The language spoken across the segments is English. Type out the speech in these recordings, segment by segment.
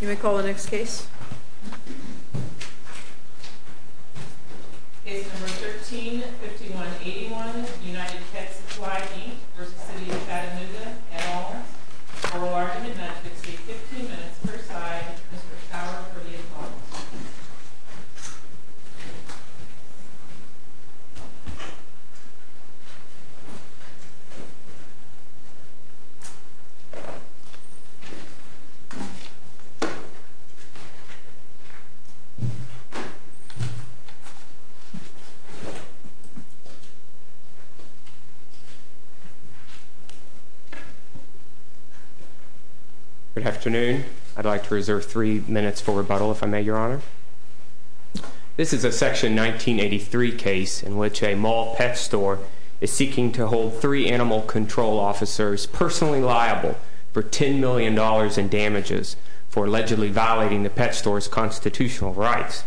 You may call the next case. Case number 13-5181, United Pet Supply v. City of Chattanooga, et al. Oral argument would take 15 minutes per side. Mr. Schauer for the applause. Good afternoon. I'd like to reserve three minutes for rebuttal, if I may, Your Honor. This is a Section 1983 case in which a mall pet store is seeking to hold three animal control officers personally liable for $10 million in damages for allegedly violating the pet store's constitutional rights.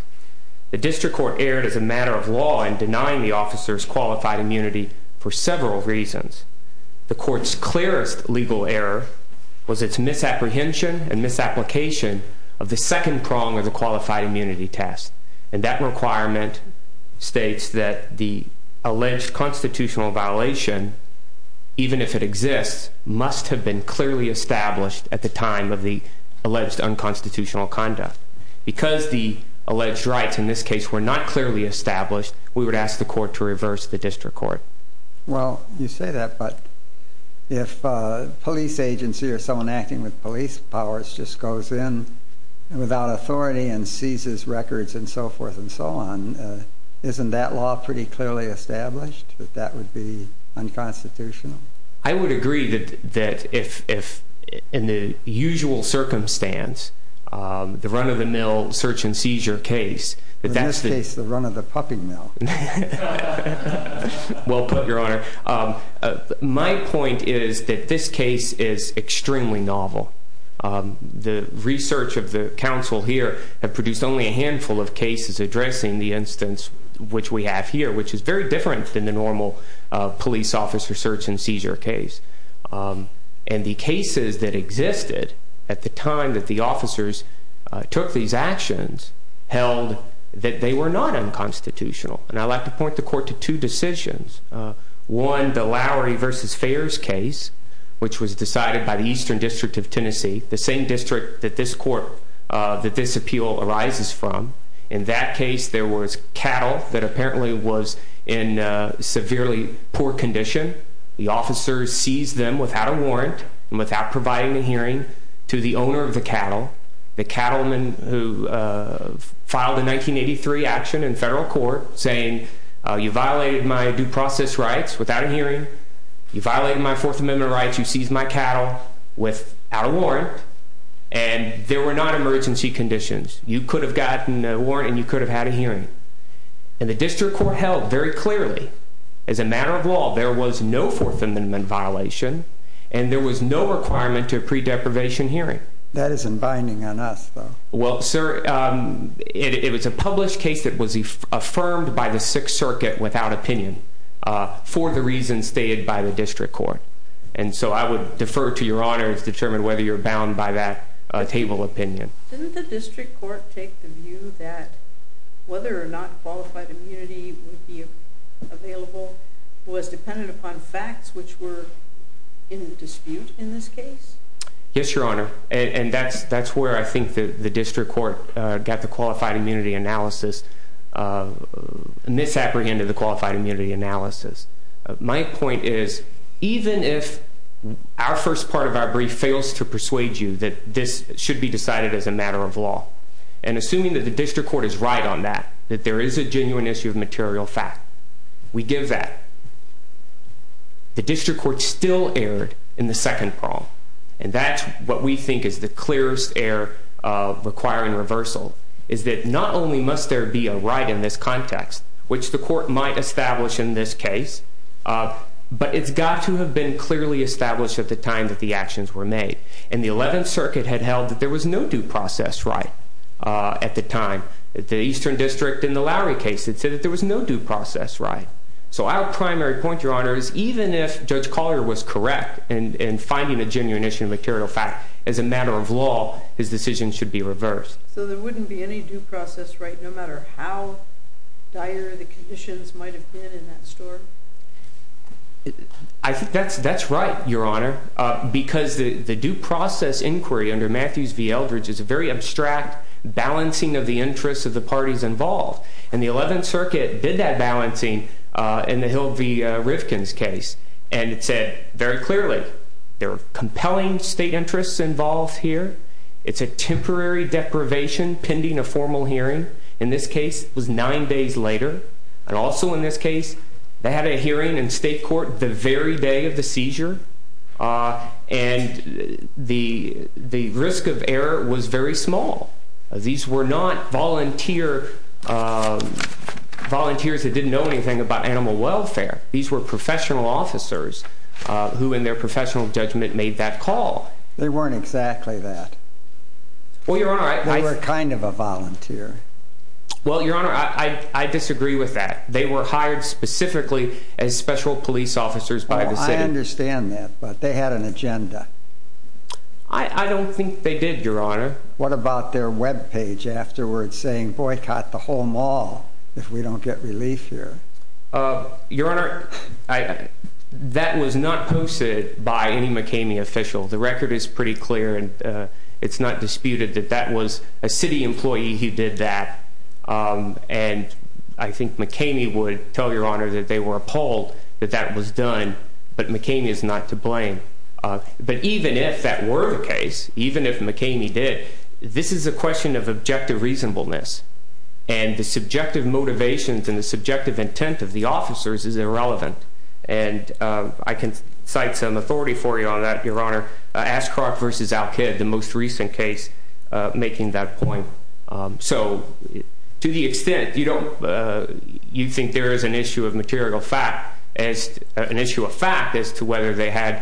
The district court erred as a matter of law in denying the officers qualified immunity for several reasons. The court's clearest legal error was its misapprehension and misapplication of the second prong of the qualified immunity test. And that requirement states that the alleged constitutional violation, even if it exists, must have been clearly established at the time of the alleged unconstitutional conduct. Because the alleged rights in this case were not clearly established, we would ask the court to reverse the district court. Well, you say that, but if a police agency or someone acting with police powers just goes in without authority and seizes records and so forth and so on, isn't that law pretty clearly established that that would be unconstitutional? I would agree that if, in the usual circumstance, the run-of-the-mill search-and-seizure case, that that's the- In this case, the run-of-the-puppy mill. Well put, Your Honor. My point is that this case is extremely novel. The research of the counsel here have produced only a handful of cases addressing the instance which we have here, which is very different than the normal police officer search-and-seizure case. And the cases that existed at the time that the officers took these actions held that they were not unconstitutional. And I'd like to point the court to two decisions. One, the Lowery v. Fares case, which was decided by the Eastern District of Tennessee, the same district that this appeal arises from. In that case, there was cattle that apparently was in severely poor condition. The officers seized them without a warrant and without providing a hearing to the owner of the cattle. The cattlemen who filed a 1983 action in federal court saying, You violated my due process rights without a hearing. You violated my Fourth Amendment rights. You seized my cattle without a warrant. And there were not emergency conditions. You could have gotten a warrant and you could have had a hearing. And the district court held very clearly, as a matter of law, there was no Fourth Amendment violation, and there was no requirement to a pre-deprivation hearing. That isn't binding on us, though. Well, sir, it was a published case that was affirmed by the Sixth Circuit without opinion for the reasons stated by the district court. And so I would defer to your honors to determine whether you're bound by that table opinion. Didn't the district court take the view that whether or not qualified immunity would be available was dependent upon facts which were in dispute in this case? Yes, your honor. And that's where I think the district court got the qualified immunity analysis, misapprehended the qualified immunity analysis. My point is, even if our first part of our brief fails to persuade you that this should be decided as a matter of law, and assuming that the district court is right on that, that there is a genuine issue of material fact, we give that. The district court still erred in the second prong, and that's what we think is the clearest error requiring reversal, is that not only must there be a right in this context, which the court might establish in this case, but it's got to have been clearly established at the time that the actions were made. And the Eleventh Circuit had held that there was no due process right at the time. The Eastern District in the Lowry case had said that there was no due process right. So our primary point, your honor, is even if Judge Collier was correct in finding a genuine issue of material fact, as a matter of law, his decision should be reversed. So there wouldn't be any due process right no matter how dire the conditions might have been in that story? That's right, your honor, because the due process inquiry under Matthews v. Eldridge is a very abstract balancing of the interests of the parties involved. And the Eleventh Circuit did that balancing in the Hill v. Rivkin's case, and it said very clearly there were compelling state interests involved here. It's a temporary deprivation pending a formal hearing. In this case, it was nine days later. And also in this case, they had a hearing in state court the very day of the seizure, and the risk of error was very small. These were not volunteers that didn't know anything about animal welfare. These were professional officers who in their professional judgment made that call. They weren't exactly that. Well, your honor, I... They were kind of a volunteer. Well, your honor, I disagree with that. They were hired specifically as special police officers by the city. Well, I understand that, but they had an agenda. I don't think they did, your honor. What about their web page afterwards saying, Boycott the whole mall if we don't get relief here? Your honor, that was not posted by any McKamey official. The record is pretty clear, and it's not disputed that that was a city employee who did that. And I think McKamey would tell your honor that they were appalled that that was done, but McKamey is not to blame. But even if that were the case, even if McKamey did, this is a question of objective reasonableness, and the subjective motivations and the subjective intent of the officers is irrelevant. And I can cite some authority for you on that, your honor. Ashcroft v. Al-Kid, the most recent case, making that point. So to the extent you don't... an issue of fact as to whether they had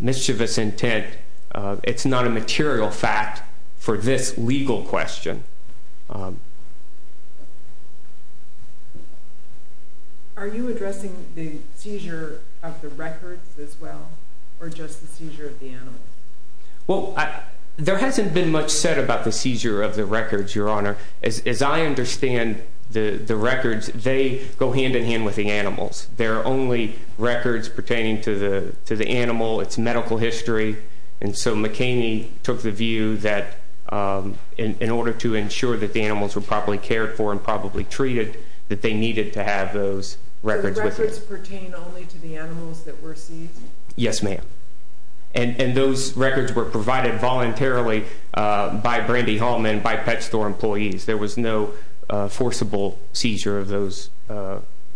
mischievous intent, it's not a material fact for this legal question. Are you addressing the seizure of the records as well, or just the seizure of the animals? Well, there hasn't been much said about the seizure of the records, your honor. As I understand the records, they go hand-in-hand with the animals. They're only records pertaining to the animal, its medical history. And so McKamey took the view that in order to ensure that the animals were properly cared for and probably treated, that they needed to have those records with them. So the records pertain only to the animals that were seized? Yes, ma'am. And those records were provided voluntarily by Brandy Hallman, by pet store employees. There was no forcible seizure of those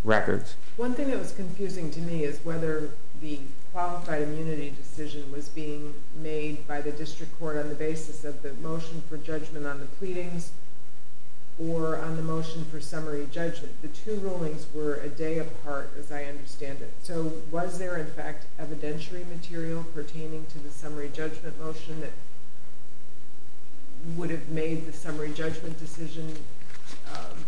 records. One thing that was confusing to me is whether the qualified immunity decision was being made by the district court on the basis of the motion for judgment on the pleadings or on the motion for summary judgment. The two rulings were a day apart, as I understand it. So was there, in fact, evidentiary material pertaining to the summary judgment motion that would have made the summary judgment decision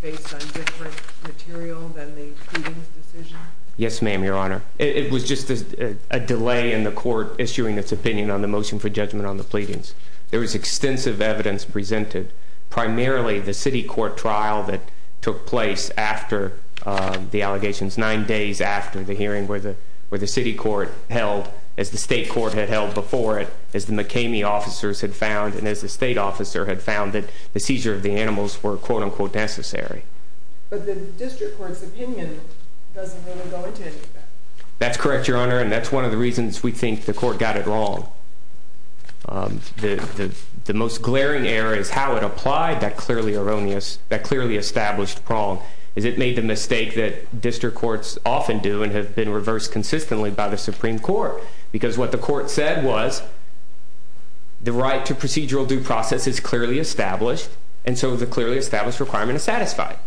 based on different material than the pleadings decision? Yes, ma'am, your honor. It was just a delay in the court issuing its opinion on the motion for judgment on the pleadings. There was extensive evidence presented, primarily the city court trial that took place nine days after the hearing where the city court held, as the state court had held before it, as the McKamey officers had found, and as the state officer had found, that the seizure of the animals were, quote, unquote, necessary. But the district court's opinion doesn't really go into any of that. That's correct, your honor, and that's one of the reasons we think the court got it wrong. The most glaring error is how it applied that clearly established prong, is it made the mistake that district courts often do and have been reversed consistently by the Supreme Court, because what the court said was the right to procedural due process is clearly established, and so the clearly established requirement is satisfied.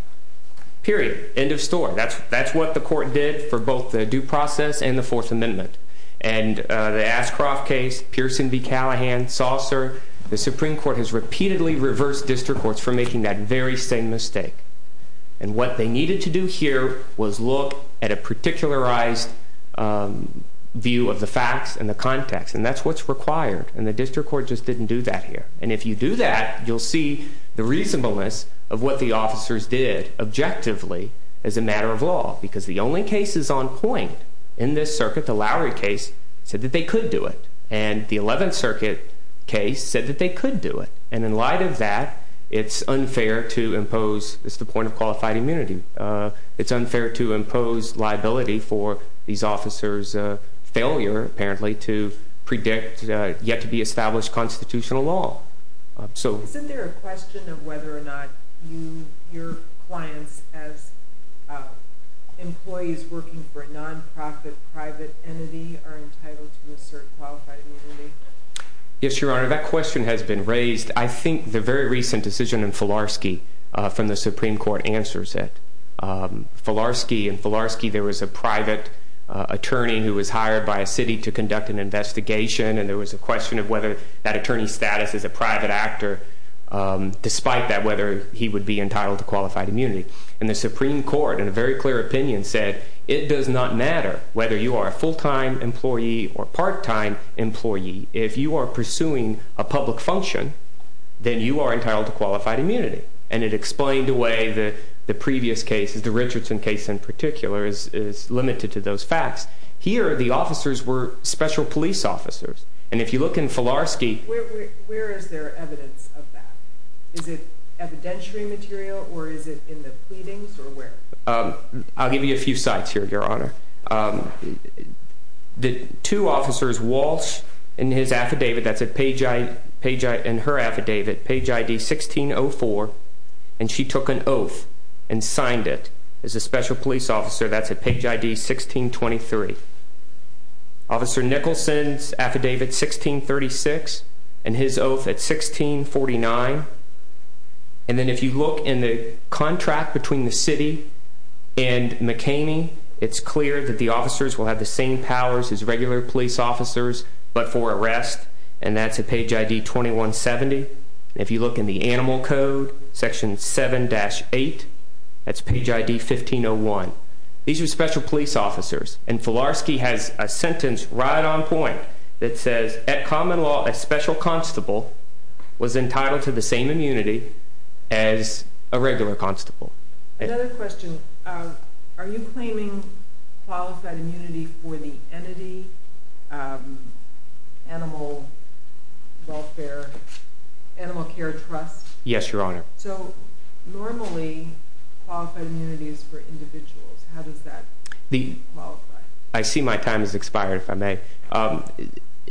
Period. End of story. That's what the court did for both the due process and the Fourth Amendment. And the Ashcroft case, Pearson v. Callahan, Saucer, the Supreme Court has repeatedly reversed district courts for making that very same mistake. And what they needed to do here was look at a particularized view of the facts and the context, and that's what's required, and the district court just didn't do that here. And if you do that, you'll see the reasonableness of what the officers did objectively as a matter of law, because the only cases on point in this circuit, the Lowry case, said that they could do it, and the Eleventh Circuit case said that they could do it, and in light of that, it's unfair to impose, it's the point of qualified immunity, it's unfair to impose liability for these officers' failure, apparently, to predict yet-to-be-established constitutional law. Isn't there a question of whether or not your clients, as employees working for a nonprofit private entity, are entitled to assert qualified immunity? Yes, Your Honor, that question has been raised. I think the very recent decision in Filarski from the Supreme Court answers it. In Filarski, there was a private attorney who was hired by a city to conduct an investigation, and there was a question of whether that attorney's status as a private actor, despite that, whether he would be entitled to qualified immunity. And the Supreme Court, in a very clear opinion, said, it does not matter whether you are a full-time employee or part-time employee. If you are pursuing a public function, then you are entitled to qualified immunity. And it explained away the previous cases. The Richardson case, in particular, is limited to those facts. Here, the officers were special police officers. And if you look in Filarski— Where is there evidence of that? Is it evidentiary material, or is it in the pleadings, or where? I'll give you a few sites here, Your Honor. The two officers, Walsh and his affidavit, that's in her affidavit, page ID 1604, and she took an oath and signed it as a special police officer. That's at page ID 1623. Officer Nicholson's affidavit, 1636, and his oath at 1649. And then if you look in the contract between the city and McKamey, it's clear that the officers will have the same powers as regular police officers but for arrest, and that's at page ID 2170. If you look in the animal code, section 7-8, that's page ID 1501. These were special police officers. And Filarski has a sentence right on point that says, at common law, a special constable was entitled to the same immunity as a regular constable. Another question. Are you claiming qualified immunity for the entity, Animal Welfare, Animal Care Trust? Yes, Your Honor. So normally, qualified immunity is for individuals. How does that qualify? I see my time has expired, if I may.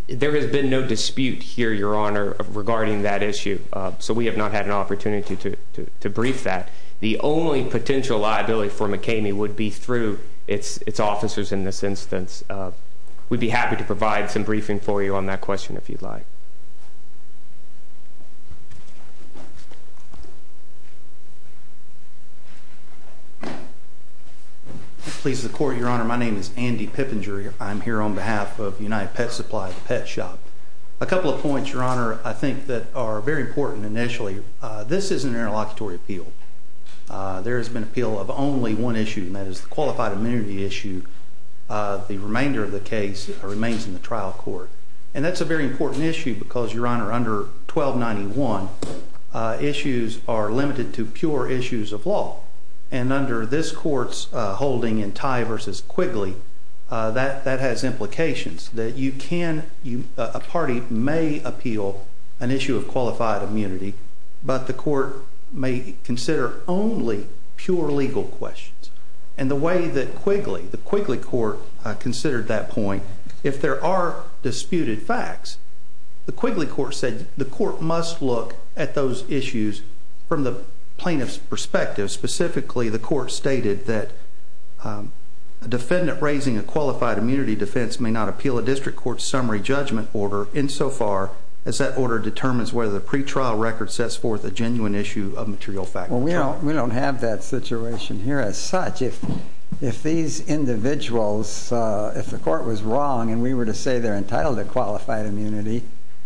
There has been no dispute here, Your Honor, regarding that issue, so we have not had an opportunity to brief that. The only potential liability for McKamey would be through its officers in this instance. We'd be happy to provide some briefing for you on that question, if you'd like. If it pleases the Court, Your Honor, my name is Andy Pippenger. I'm here on behalf of United Pet Supply Pet Shop. A couple of points, Your Honor, I think that are very important initially. This is an interlocutory appeal. There has been appeal of only one issue, and that is the qualified immunity issue. The remainder of the case remains in the trial court. And that's a very important issue because, Your Honor, under 1291, issues are limited to pure issues of law. And under this Court's holding in Tye v. Quigley, that has implications. A party may appeal an issue of qualified immunity, but the Court may consider only pure legal questions. And the way that Quigley, the Quigley Court, considered that point, if there are disputed facts, the Quigley Court said the Court must look at those issues from the plaintiff's perspective. Specifically, the Court stated that a defendant raising a qualified immunity defense may not appeal a district court summary judgment order insofar as that order determines whether the pretrial record sets forth a genuine issue of material fact. Well, we don't have that situation here as such. If these individuals, if the Court was wrong and we were to say they're entitled to qualified immunity,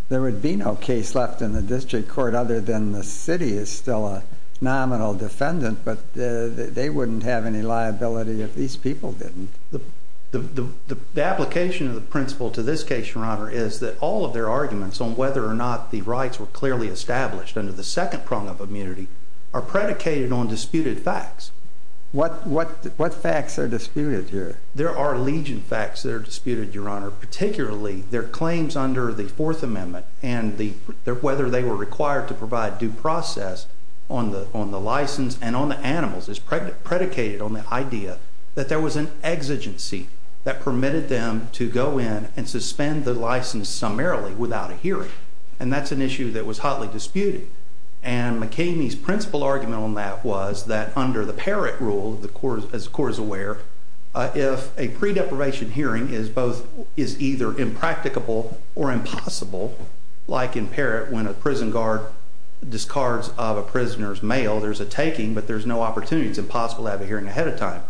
there would be no case left in the district court other than the city is still a nominal defendant, but they wouldn't have any liability if these people didn't. The application of the principle to this case, Your Honor, is that all of their arguments on whether or not the rights were clearly established under the second prong of immunity are predicated on disputed facts. What facts are disputed here? There are legion facts that are disputed, Your Honor, particularly their claims under the Fourth Amendment and whether they were required to provide due process on the license and on the animals is predicated on the idea that there was an exigency that permitted them to go in and suspend the license summarily without a hearing, and that's an issue that was hotly disputed. And McKamey's principle argument on that was that under the Parrott rule, as the Court is aware, if a pre-deprivation hearing is either impracticable or impossible, like in Parrott when a prison guard discards of a prisoner's mail, there's a taking, but there's no opportunity. It's impossible to have a hearing ahead of time.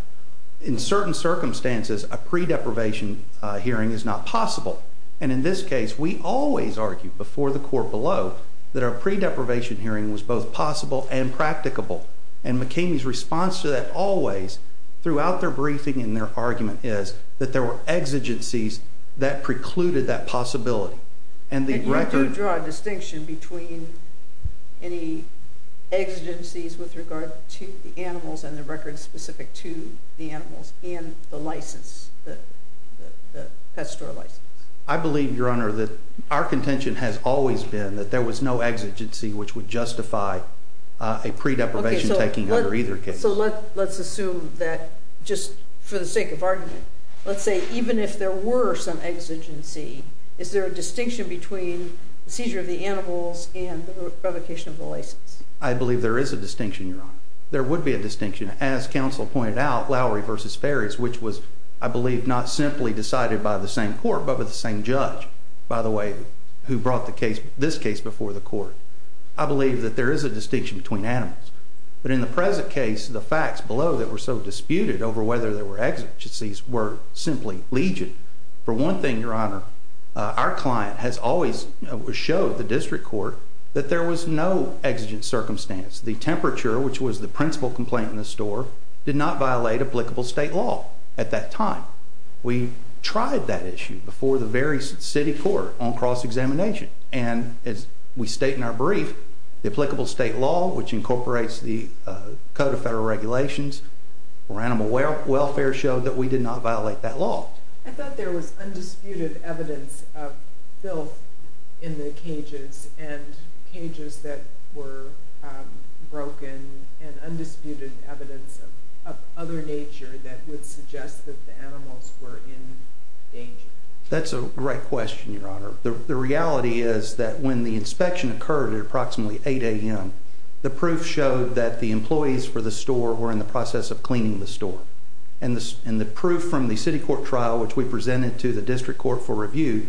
In certain circumstances, a pre-deprivation hearing is not possible, and in this case, we always argue before the Court below that a pre-deprivation hearing was both possible and practicable, and McKamey's response to that always throughout their briefing and their argument is that there were exigencies that precluded that possibility. And you do draw a distinction between any exigencies with regard to the animals and the records specific to the animals and the license, the pet store license? I believe, Your Honor, that our contention has always been that there was no exigency which would justify a pre-deprivation taking under either case. So let's assume that just for the sake of argument, let's say even if there were some exigency, is there a distinction between the seizure of the animals and the provocation of the license? I believe there is a distinction, Your Honor. There would be a distinction. As counsel pointed out, Lowry v. Ferries, which was, I believe, not simply decided by the same court but by the same judge, by the way, who brought this case before the Court, I believe that there is a distinction between animals. But in the present case, the facts below that were so disputed over whether there were exigencies were simply legion. For one thing, Your Honor, our client has always showed the district court that there was no exigent circumstance. The temperature, which was the principal complaint in the store, did not violate applicable state law at that time. We tried that issue before the very city court on cross-examination, and as we state in our brief, the applicable state law, which incorporates the Code of Federal Regulations for animal welfare, showed that we did not violate that law. I thought there was undisputed evidence of filth in the cages and cages that were broken and undisputed evidence of other nature that would suggest that the animals were in danger. That's a great question, Your Honor. The reality is that when the inspection occurred at approximately 8 a.m., the proof showed that the employees for the store were in the process of cleaning the store. And the proof from the city court trial, which we presented to the district court for review,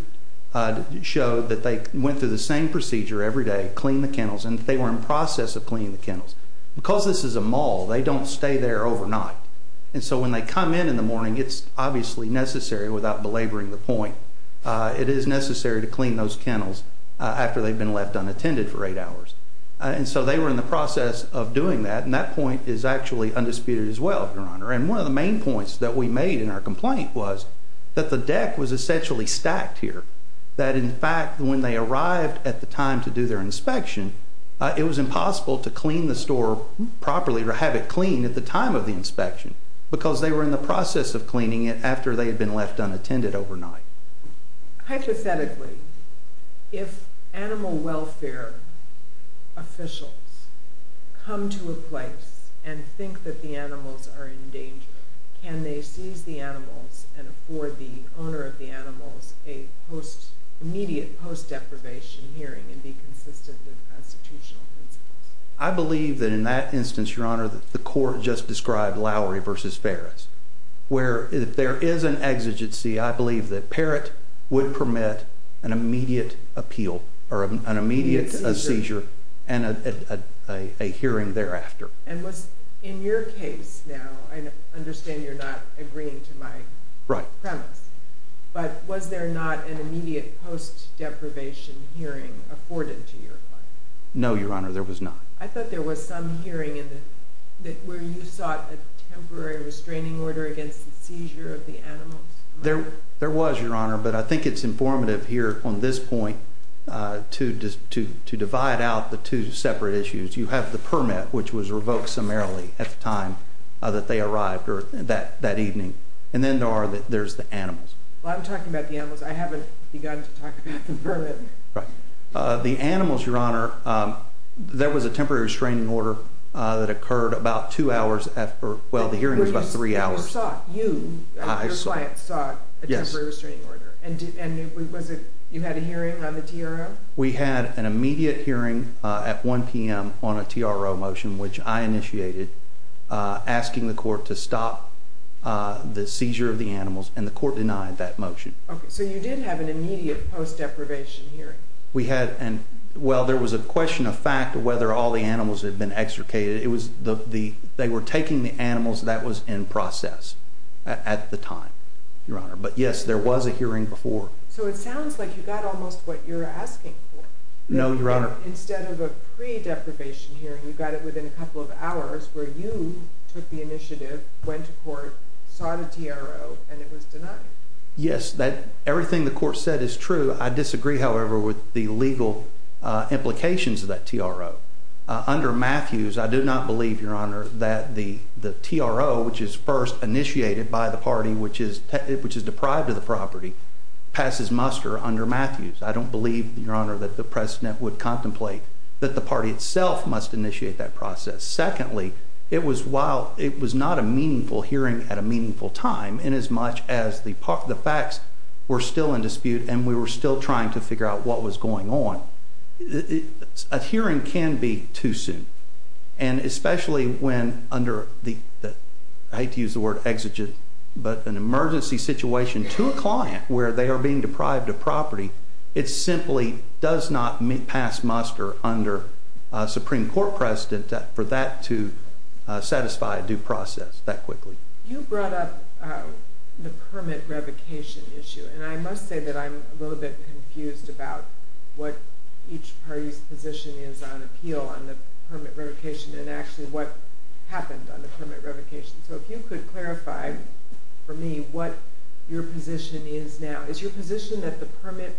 showed that they went through the same procedure every day, cleaned the kennels, and that they were in the process of cleaning the kennels. Because this is a mall, they don't stay there overnight. And so when they come in in the morning, it's obviously necessary, without belaboring the point, it is necessary to clean those kennels after they've been left unattended for 8 hours. And so they were in the process of doing that, and that point is actually undisputed as well, Your Honor. And one of the main points that we made in our complaint was that the deck was essentially stacked here, that, in fact, when they arrived at the time to do their inspection, it was impossible to clean the store properly or have it cleaned at the time of the inspection because they were in the process of cleaning it after they had been left unattended overnight. Hypothetically, if animal welfare officials come to a place and think that the animals are in danger, can they seize the animals and afford the owner of the animals an immediate post-deprivation hearing and be consistent with constitutional principles? I believe that in that instance, Your Honor, that the court just described Lowry v. Ferris, where if there is an exigency, I believe that Parrott would permit an immediate appeal or an immediate seizure and a hearing thereafter. And in your case now, I understand you're not agreeing to my premise, but was there not an immediate post-deprivation hearing afforded to your client? No, Your Honor, there was not. I thought there was some hearing where you sought a temporary restraining order against the seizure of the animals. There was, Your Honor, but I think it's informative here on this point to divide out the two separate issues. You have the permit, which was revoked summarily at the time that they arrived that evening, and then there's the animals. Well, I'm talking about the animals. I haven't begun to talk about the permit. The animals, Your Honor, there was a temporary restraining order that occurred about two hours after. Well, the hearing was about three hours. You, your client, sought a temporary restraining order. Yes. And you had a hearing on the TRO? We had an immediate hearing at 1 p.m. on a TRO motion, which I initiated, asking the court to stop the seizure of the animals, and the court denied that motion. Okay, so you did have an immediate post-deprivation hearing. We had, and, well, there was a question of fact of whether all the animals had been extricated. It was the, they were taking the animals. That was in process at the time, Your Honor, but, yes, there was a hearing before. So it sounds like you got almost what you're asking for. No, Your Honor. Instead of a pre-deprivation hearing, you got it within a couple of hours, where you took the initiative, went to court, sought a TRO, and it was denied. Yes, everything the court said is true. I disagree, however, with the legal implications of that TRO. Under Matthews, I do not believe, Your Honor, that the TRO, which is first initiated by the party, which is deprived of the property, passes muster under Matthews. I don't believe, Your Honor, that the precedent would contemplate that the party itself must initiate that process. Secondly, it was not a meaningful hearing at a meaningful time in as much as the facts were still in dispute and we were still trying to figure out what was going on. A hearing can be too soon, and especially when under the, I hate to use the word exigent, but an emergency situation to a client where they are being deprived of property, it simply does not pass muster under a Supreme Court precedent for that to satisfy a due process that quickly. You brought up the permit revocation issue, and I must say that I'm a little bit confused about what each party's position is on appeal, on the permit revocation, and actually what happened on the permit revocation. So if you could clarify for me what your position is now. Is your position that the permit,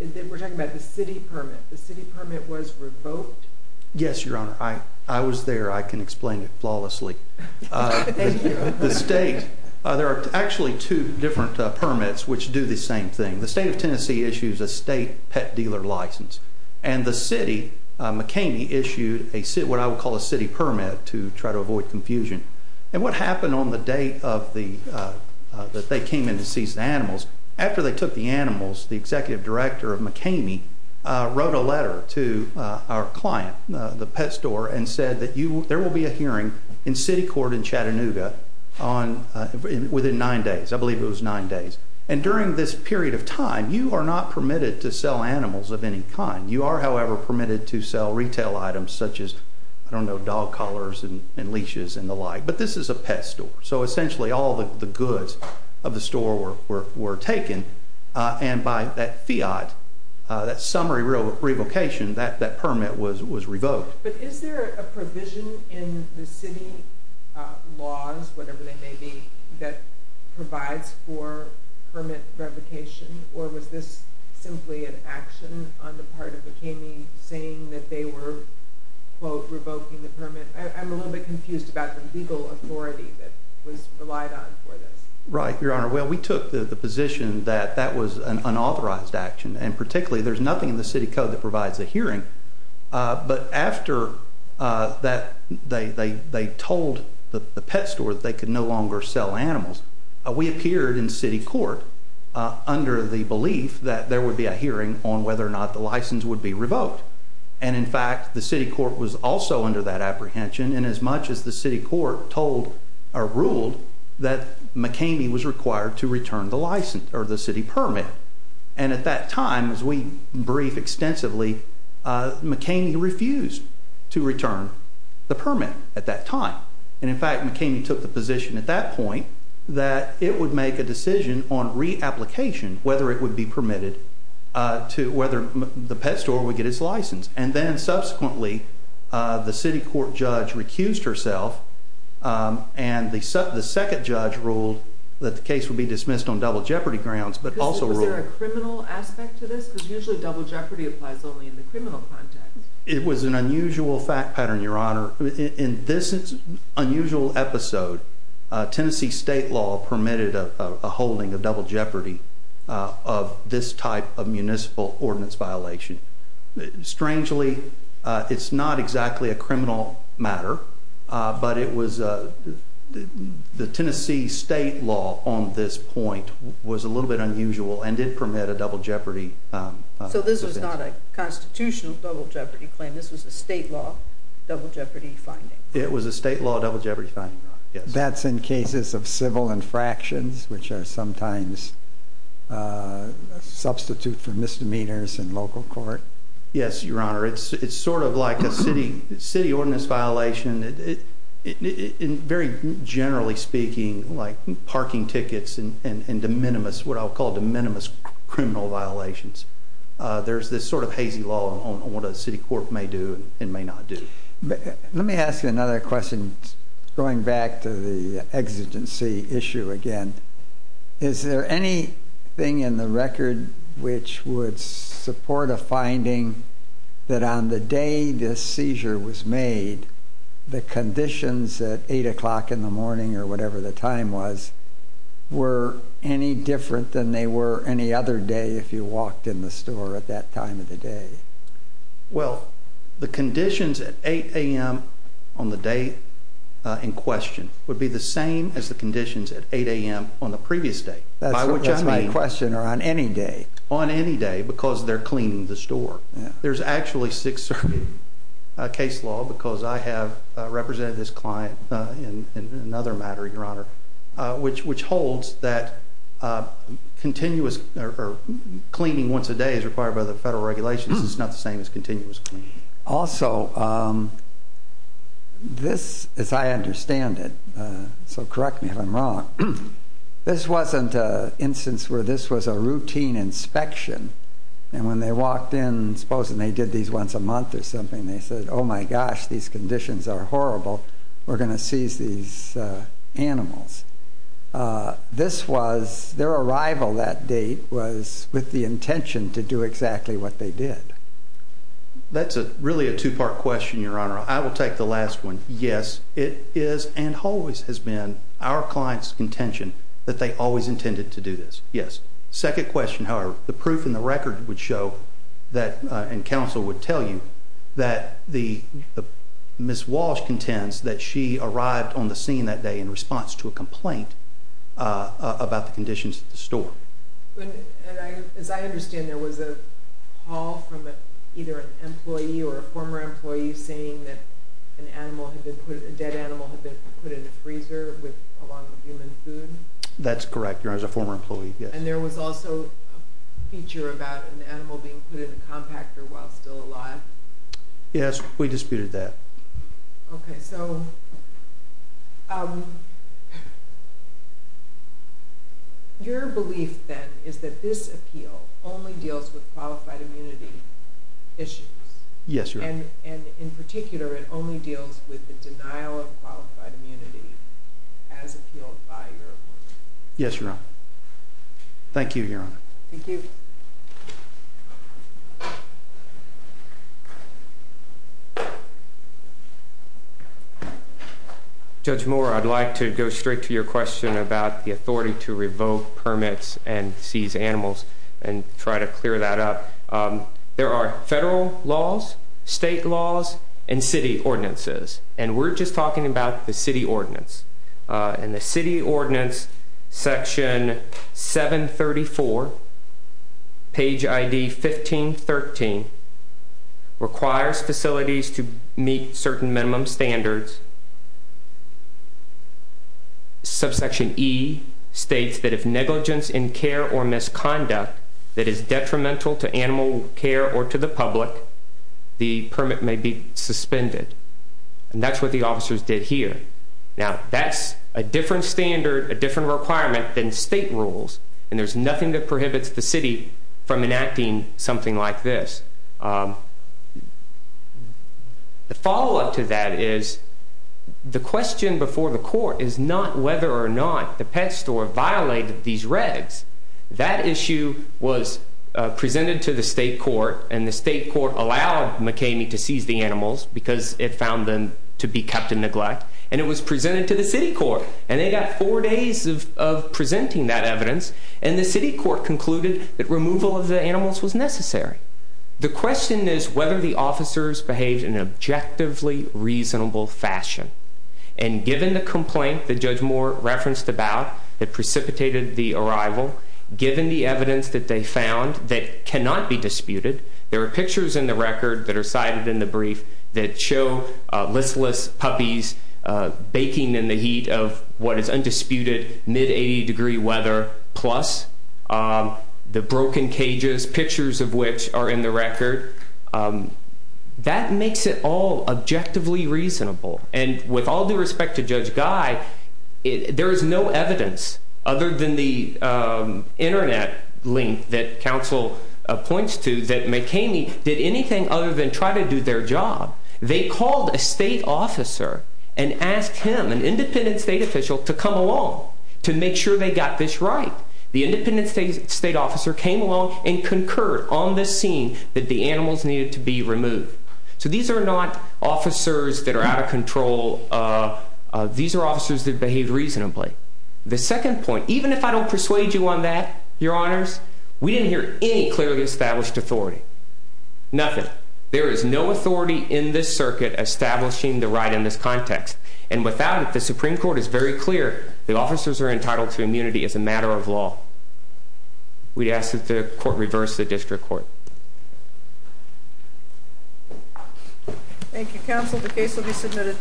that we're talking about the city permit, the city permit was revoked? Yes, Your Honor. I was there. I can explain it flawlessly. Thank you. The state, there are actually two different permits which do the same thing. The state of Tennessee issues a state pet dealer license, and the city, McKinney, issued what I would call a city permit to try to avoid confusion. And what happened on the day that they came in to seize the animals, after they took the animals, the executive director of McKinney wrote a letter to our client, the pet store, and said that there will be a hearing in city court in Chattanooga within nine days. I believe it was nine days. And during this period of time, you are not permitted to sell animals of any kind. You are, however, permitted to sell retail items such as, I don't know, dog collars and leashes and the like. But this is a pet store. So essentially all the goods of the store were taken, and by that fiat, that summary revocation, that permit was revoked. But is there a provision in the city laws, whatever they may be, that provides for permit revocation, or was this simply an action on the part of McKinney saying that they were, quote, revoking the permit? I'm a little bit confused about the legal authority that was relied on for this. Right, Your Honor. Well, we took the position that that was an unauthorized action, and particularly there's nothing in the city code that provides a hearing. But after they told the pet store that they could no longer sell animals, we appeared in city court under the belief that there would be a hearing on whether or not the license would be revoked. And, in fact, the city court was also under that apprehension, and as much as the city court told or ruled that McKinney was required to return the license or the city permit. And at that time, as we brief extensively, McKinney refused to return the permit at that time. And, in fact, McKinney took the position at that point that it would make a decision on reapplication, whether it would be permitted, whether the pet store would get its license. And then, subsequently, the city court judge recused herself, and the second judge ruled that the case would be dismissed on double jeopardy grounds, but also ruled- Was there a criminal aspect to this? Because usually double jeopardy applies only in the criminal context. It was an unusual fact pattern, Your Honor. In this unusual episode, Tennessee state law permitted a holding of double jeopardy of this type of municipal ordinance violation. Strangely, it's not exactly a criminal matter, but the Tennessee state law on this point was a little bit unusual and did permit a double jeopardy. So this was not a constitutional double jeopardy claim. This was a state law double jeopardy finding. It was a state law double jeopardy finding, Your Honor. That's in cases of civil infractions, which are sometimes a substitute for misdemeanors in local court? Yes, Your Honor. It's sort of like a city ordinance violation. Very generally speaking, like parking tickets and de minimis, what I'll call de minimis criminal violations, there's this sort of hazy law on what a city court may do and may not do. Let me ask you another question going back to the exigency issue again. Is there anything in the record which would support a finding that on the day this seizure was made, the conditions at 8 o'clock in the morning or whatever the time was, were any different than they were any other day if you walked in the store at that time of the day? Well, the conditions at 8 a.m. on the day in question would be the same as the conditions at 8 a.m. on the previous day. That's my question. Or on any day? On any day because they're cleaning the store. There's actually six serving case law because I have represented this client in another matter, Your Honor, which holds that cleaning once a day is required by the federal regulations. It's not the same as continuous cleaning. Also, this, as I understand it, so correct me if I'm wrong, this wasn't an instance where this was a routine inspection, and when they walked in, supposing they did these once a month or something, they said, Oh, my gosh, these conditions are horrible. We're going to seize these animals. This was their arrival that date was with the intention to do exactly what they did. That's really a two-part question, Your Honor. I will take the last one. Yes, it is and always has been our client's intention that they always intended to do this. Yes. The second question, however, the proof in the record would show that, and counsel would tell you, that Ms. Walsh contends that she arrived on the scene that day in response to a complaint about the conditions at the store. As I understand, there was a call from either an employee or a former employee saying that a dead animal had been put in a freezer along with human food? That's correct, Your Honor. It was a former employee, yes. And there was also a feature about an animal being put in a compactor while still alive? Yes, we disputed that. Okay, so your belief, then, is that this appeal only deals with qualified immunity issues? Yes, Your Honor. And in particular, it only deals with the denial of qualified immunity as appealed by your employees? Yes, Your Honor. Thank you, Your Honor. Thank you. Judge Moore, I'd like to go straight to your question about the authority to revoke permits and seize animals and try to clear that up. There are federal laws, state laws, and city ordinances, and we're just talking about the city ordinance. And the city ordinance, section 734, page ID 1513, requires facilities to meet certain minimum standards. Subsection E states that if negligence in care or misconduct that is detrimental to animal care or to the public, the permit may be suspended. And that's what the officers did here. Now, that's a different standard, a different requirement than state rules, and there's nothing that prohibits the city from enacting something like this. The follow-up to that is the question before the court is not whether or not the pet store violated these regs. That issue was presented to the state court, and the state court allowed McKamey to seize the animals because it found them to be kept in neglect, and it was presented to the city court. And they got four days of presenting that evidence, and the city court concluded that removal of the animals was necessary. The question is whether the officers behaved in an objectively reasonable fashion. And given the complaint that Judge Moore referenced about that precipitated the arrival, given the evidence that they found that cannot be disputed, there are pictures in the record that are cited in the brief that show listless puppies baking in the heat of what is undisputed mid-80 degree weather, plus the broken cages, pictures of which are in the record. That makes it all objectively reasonable. And with all due respect to Judge Guy, there is no evidence, other than the internet link that counsel points to, that McKamey did anything other than try to do their job. They called a state officer and asked him, an independent state official, to come along to make sure they got this right. The independent state officer came along and concurred on the scene that the animals needed to be removed. So these are not officers that are out of control. These are officers that behaved reasonably. The second point, even if I don't persuade you on that, your honors, we didn't hear any clearly established authority. Nothing. There is no authority in this circuit establishing the right in this context. And without it, the Supreme Court is very clear, the officers are entitled to immunity as a matter of law. We ask that the court reverse the district court. Thank you, counsel. The case will be submitted.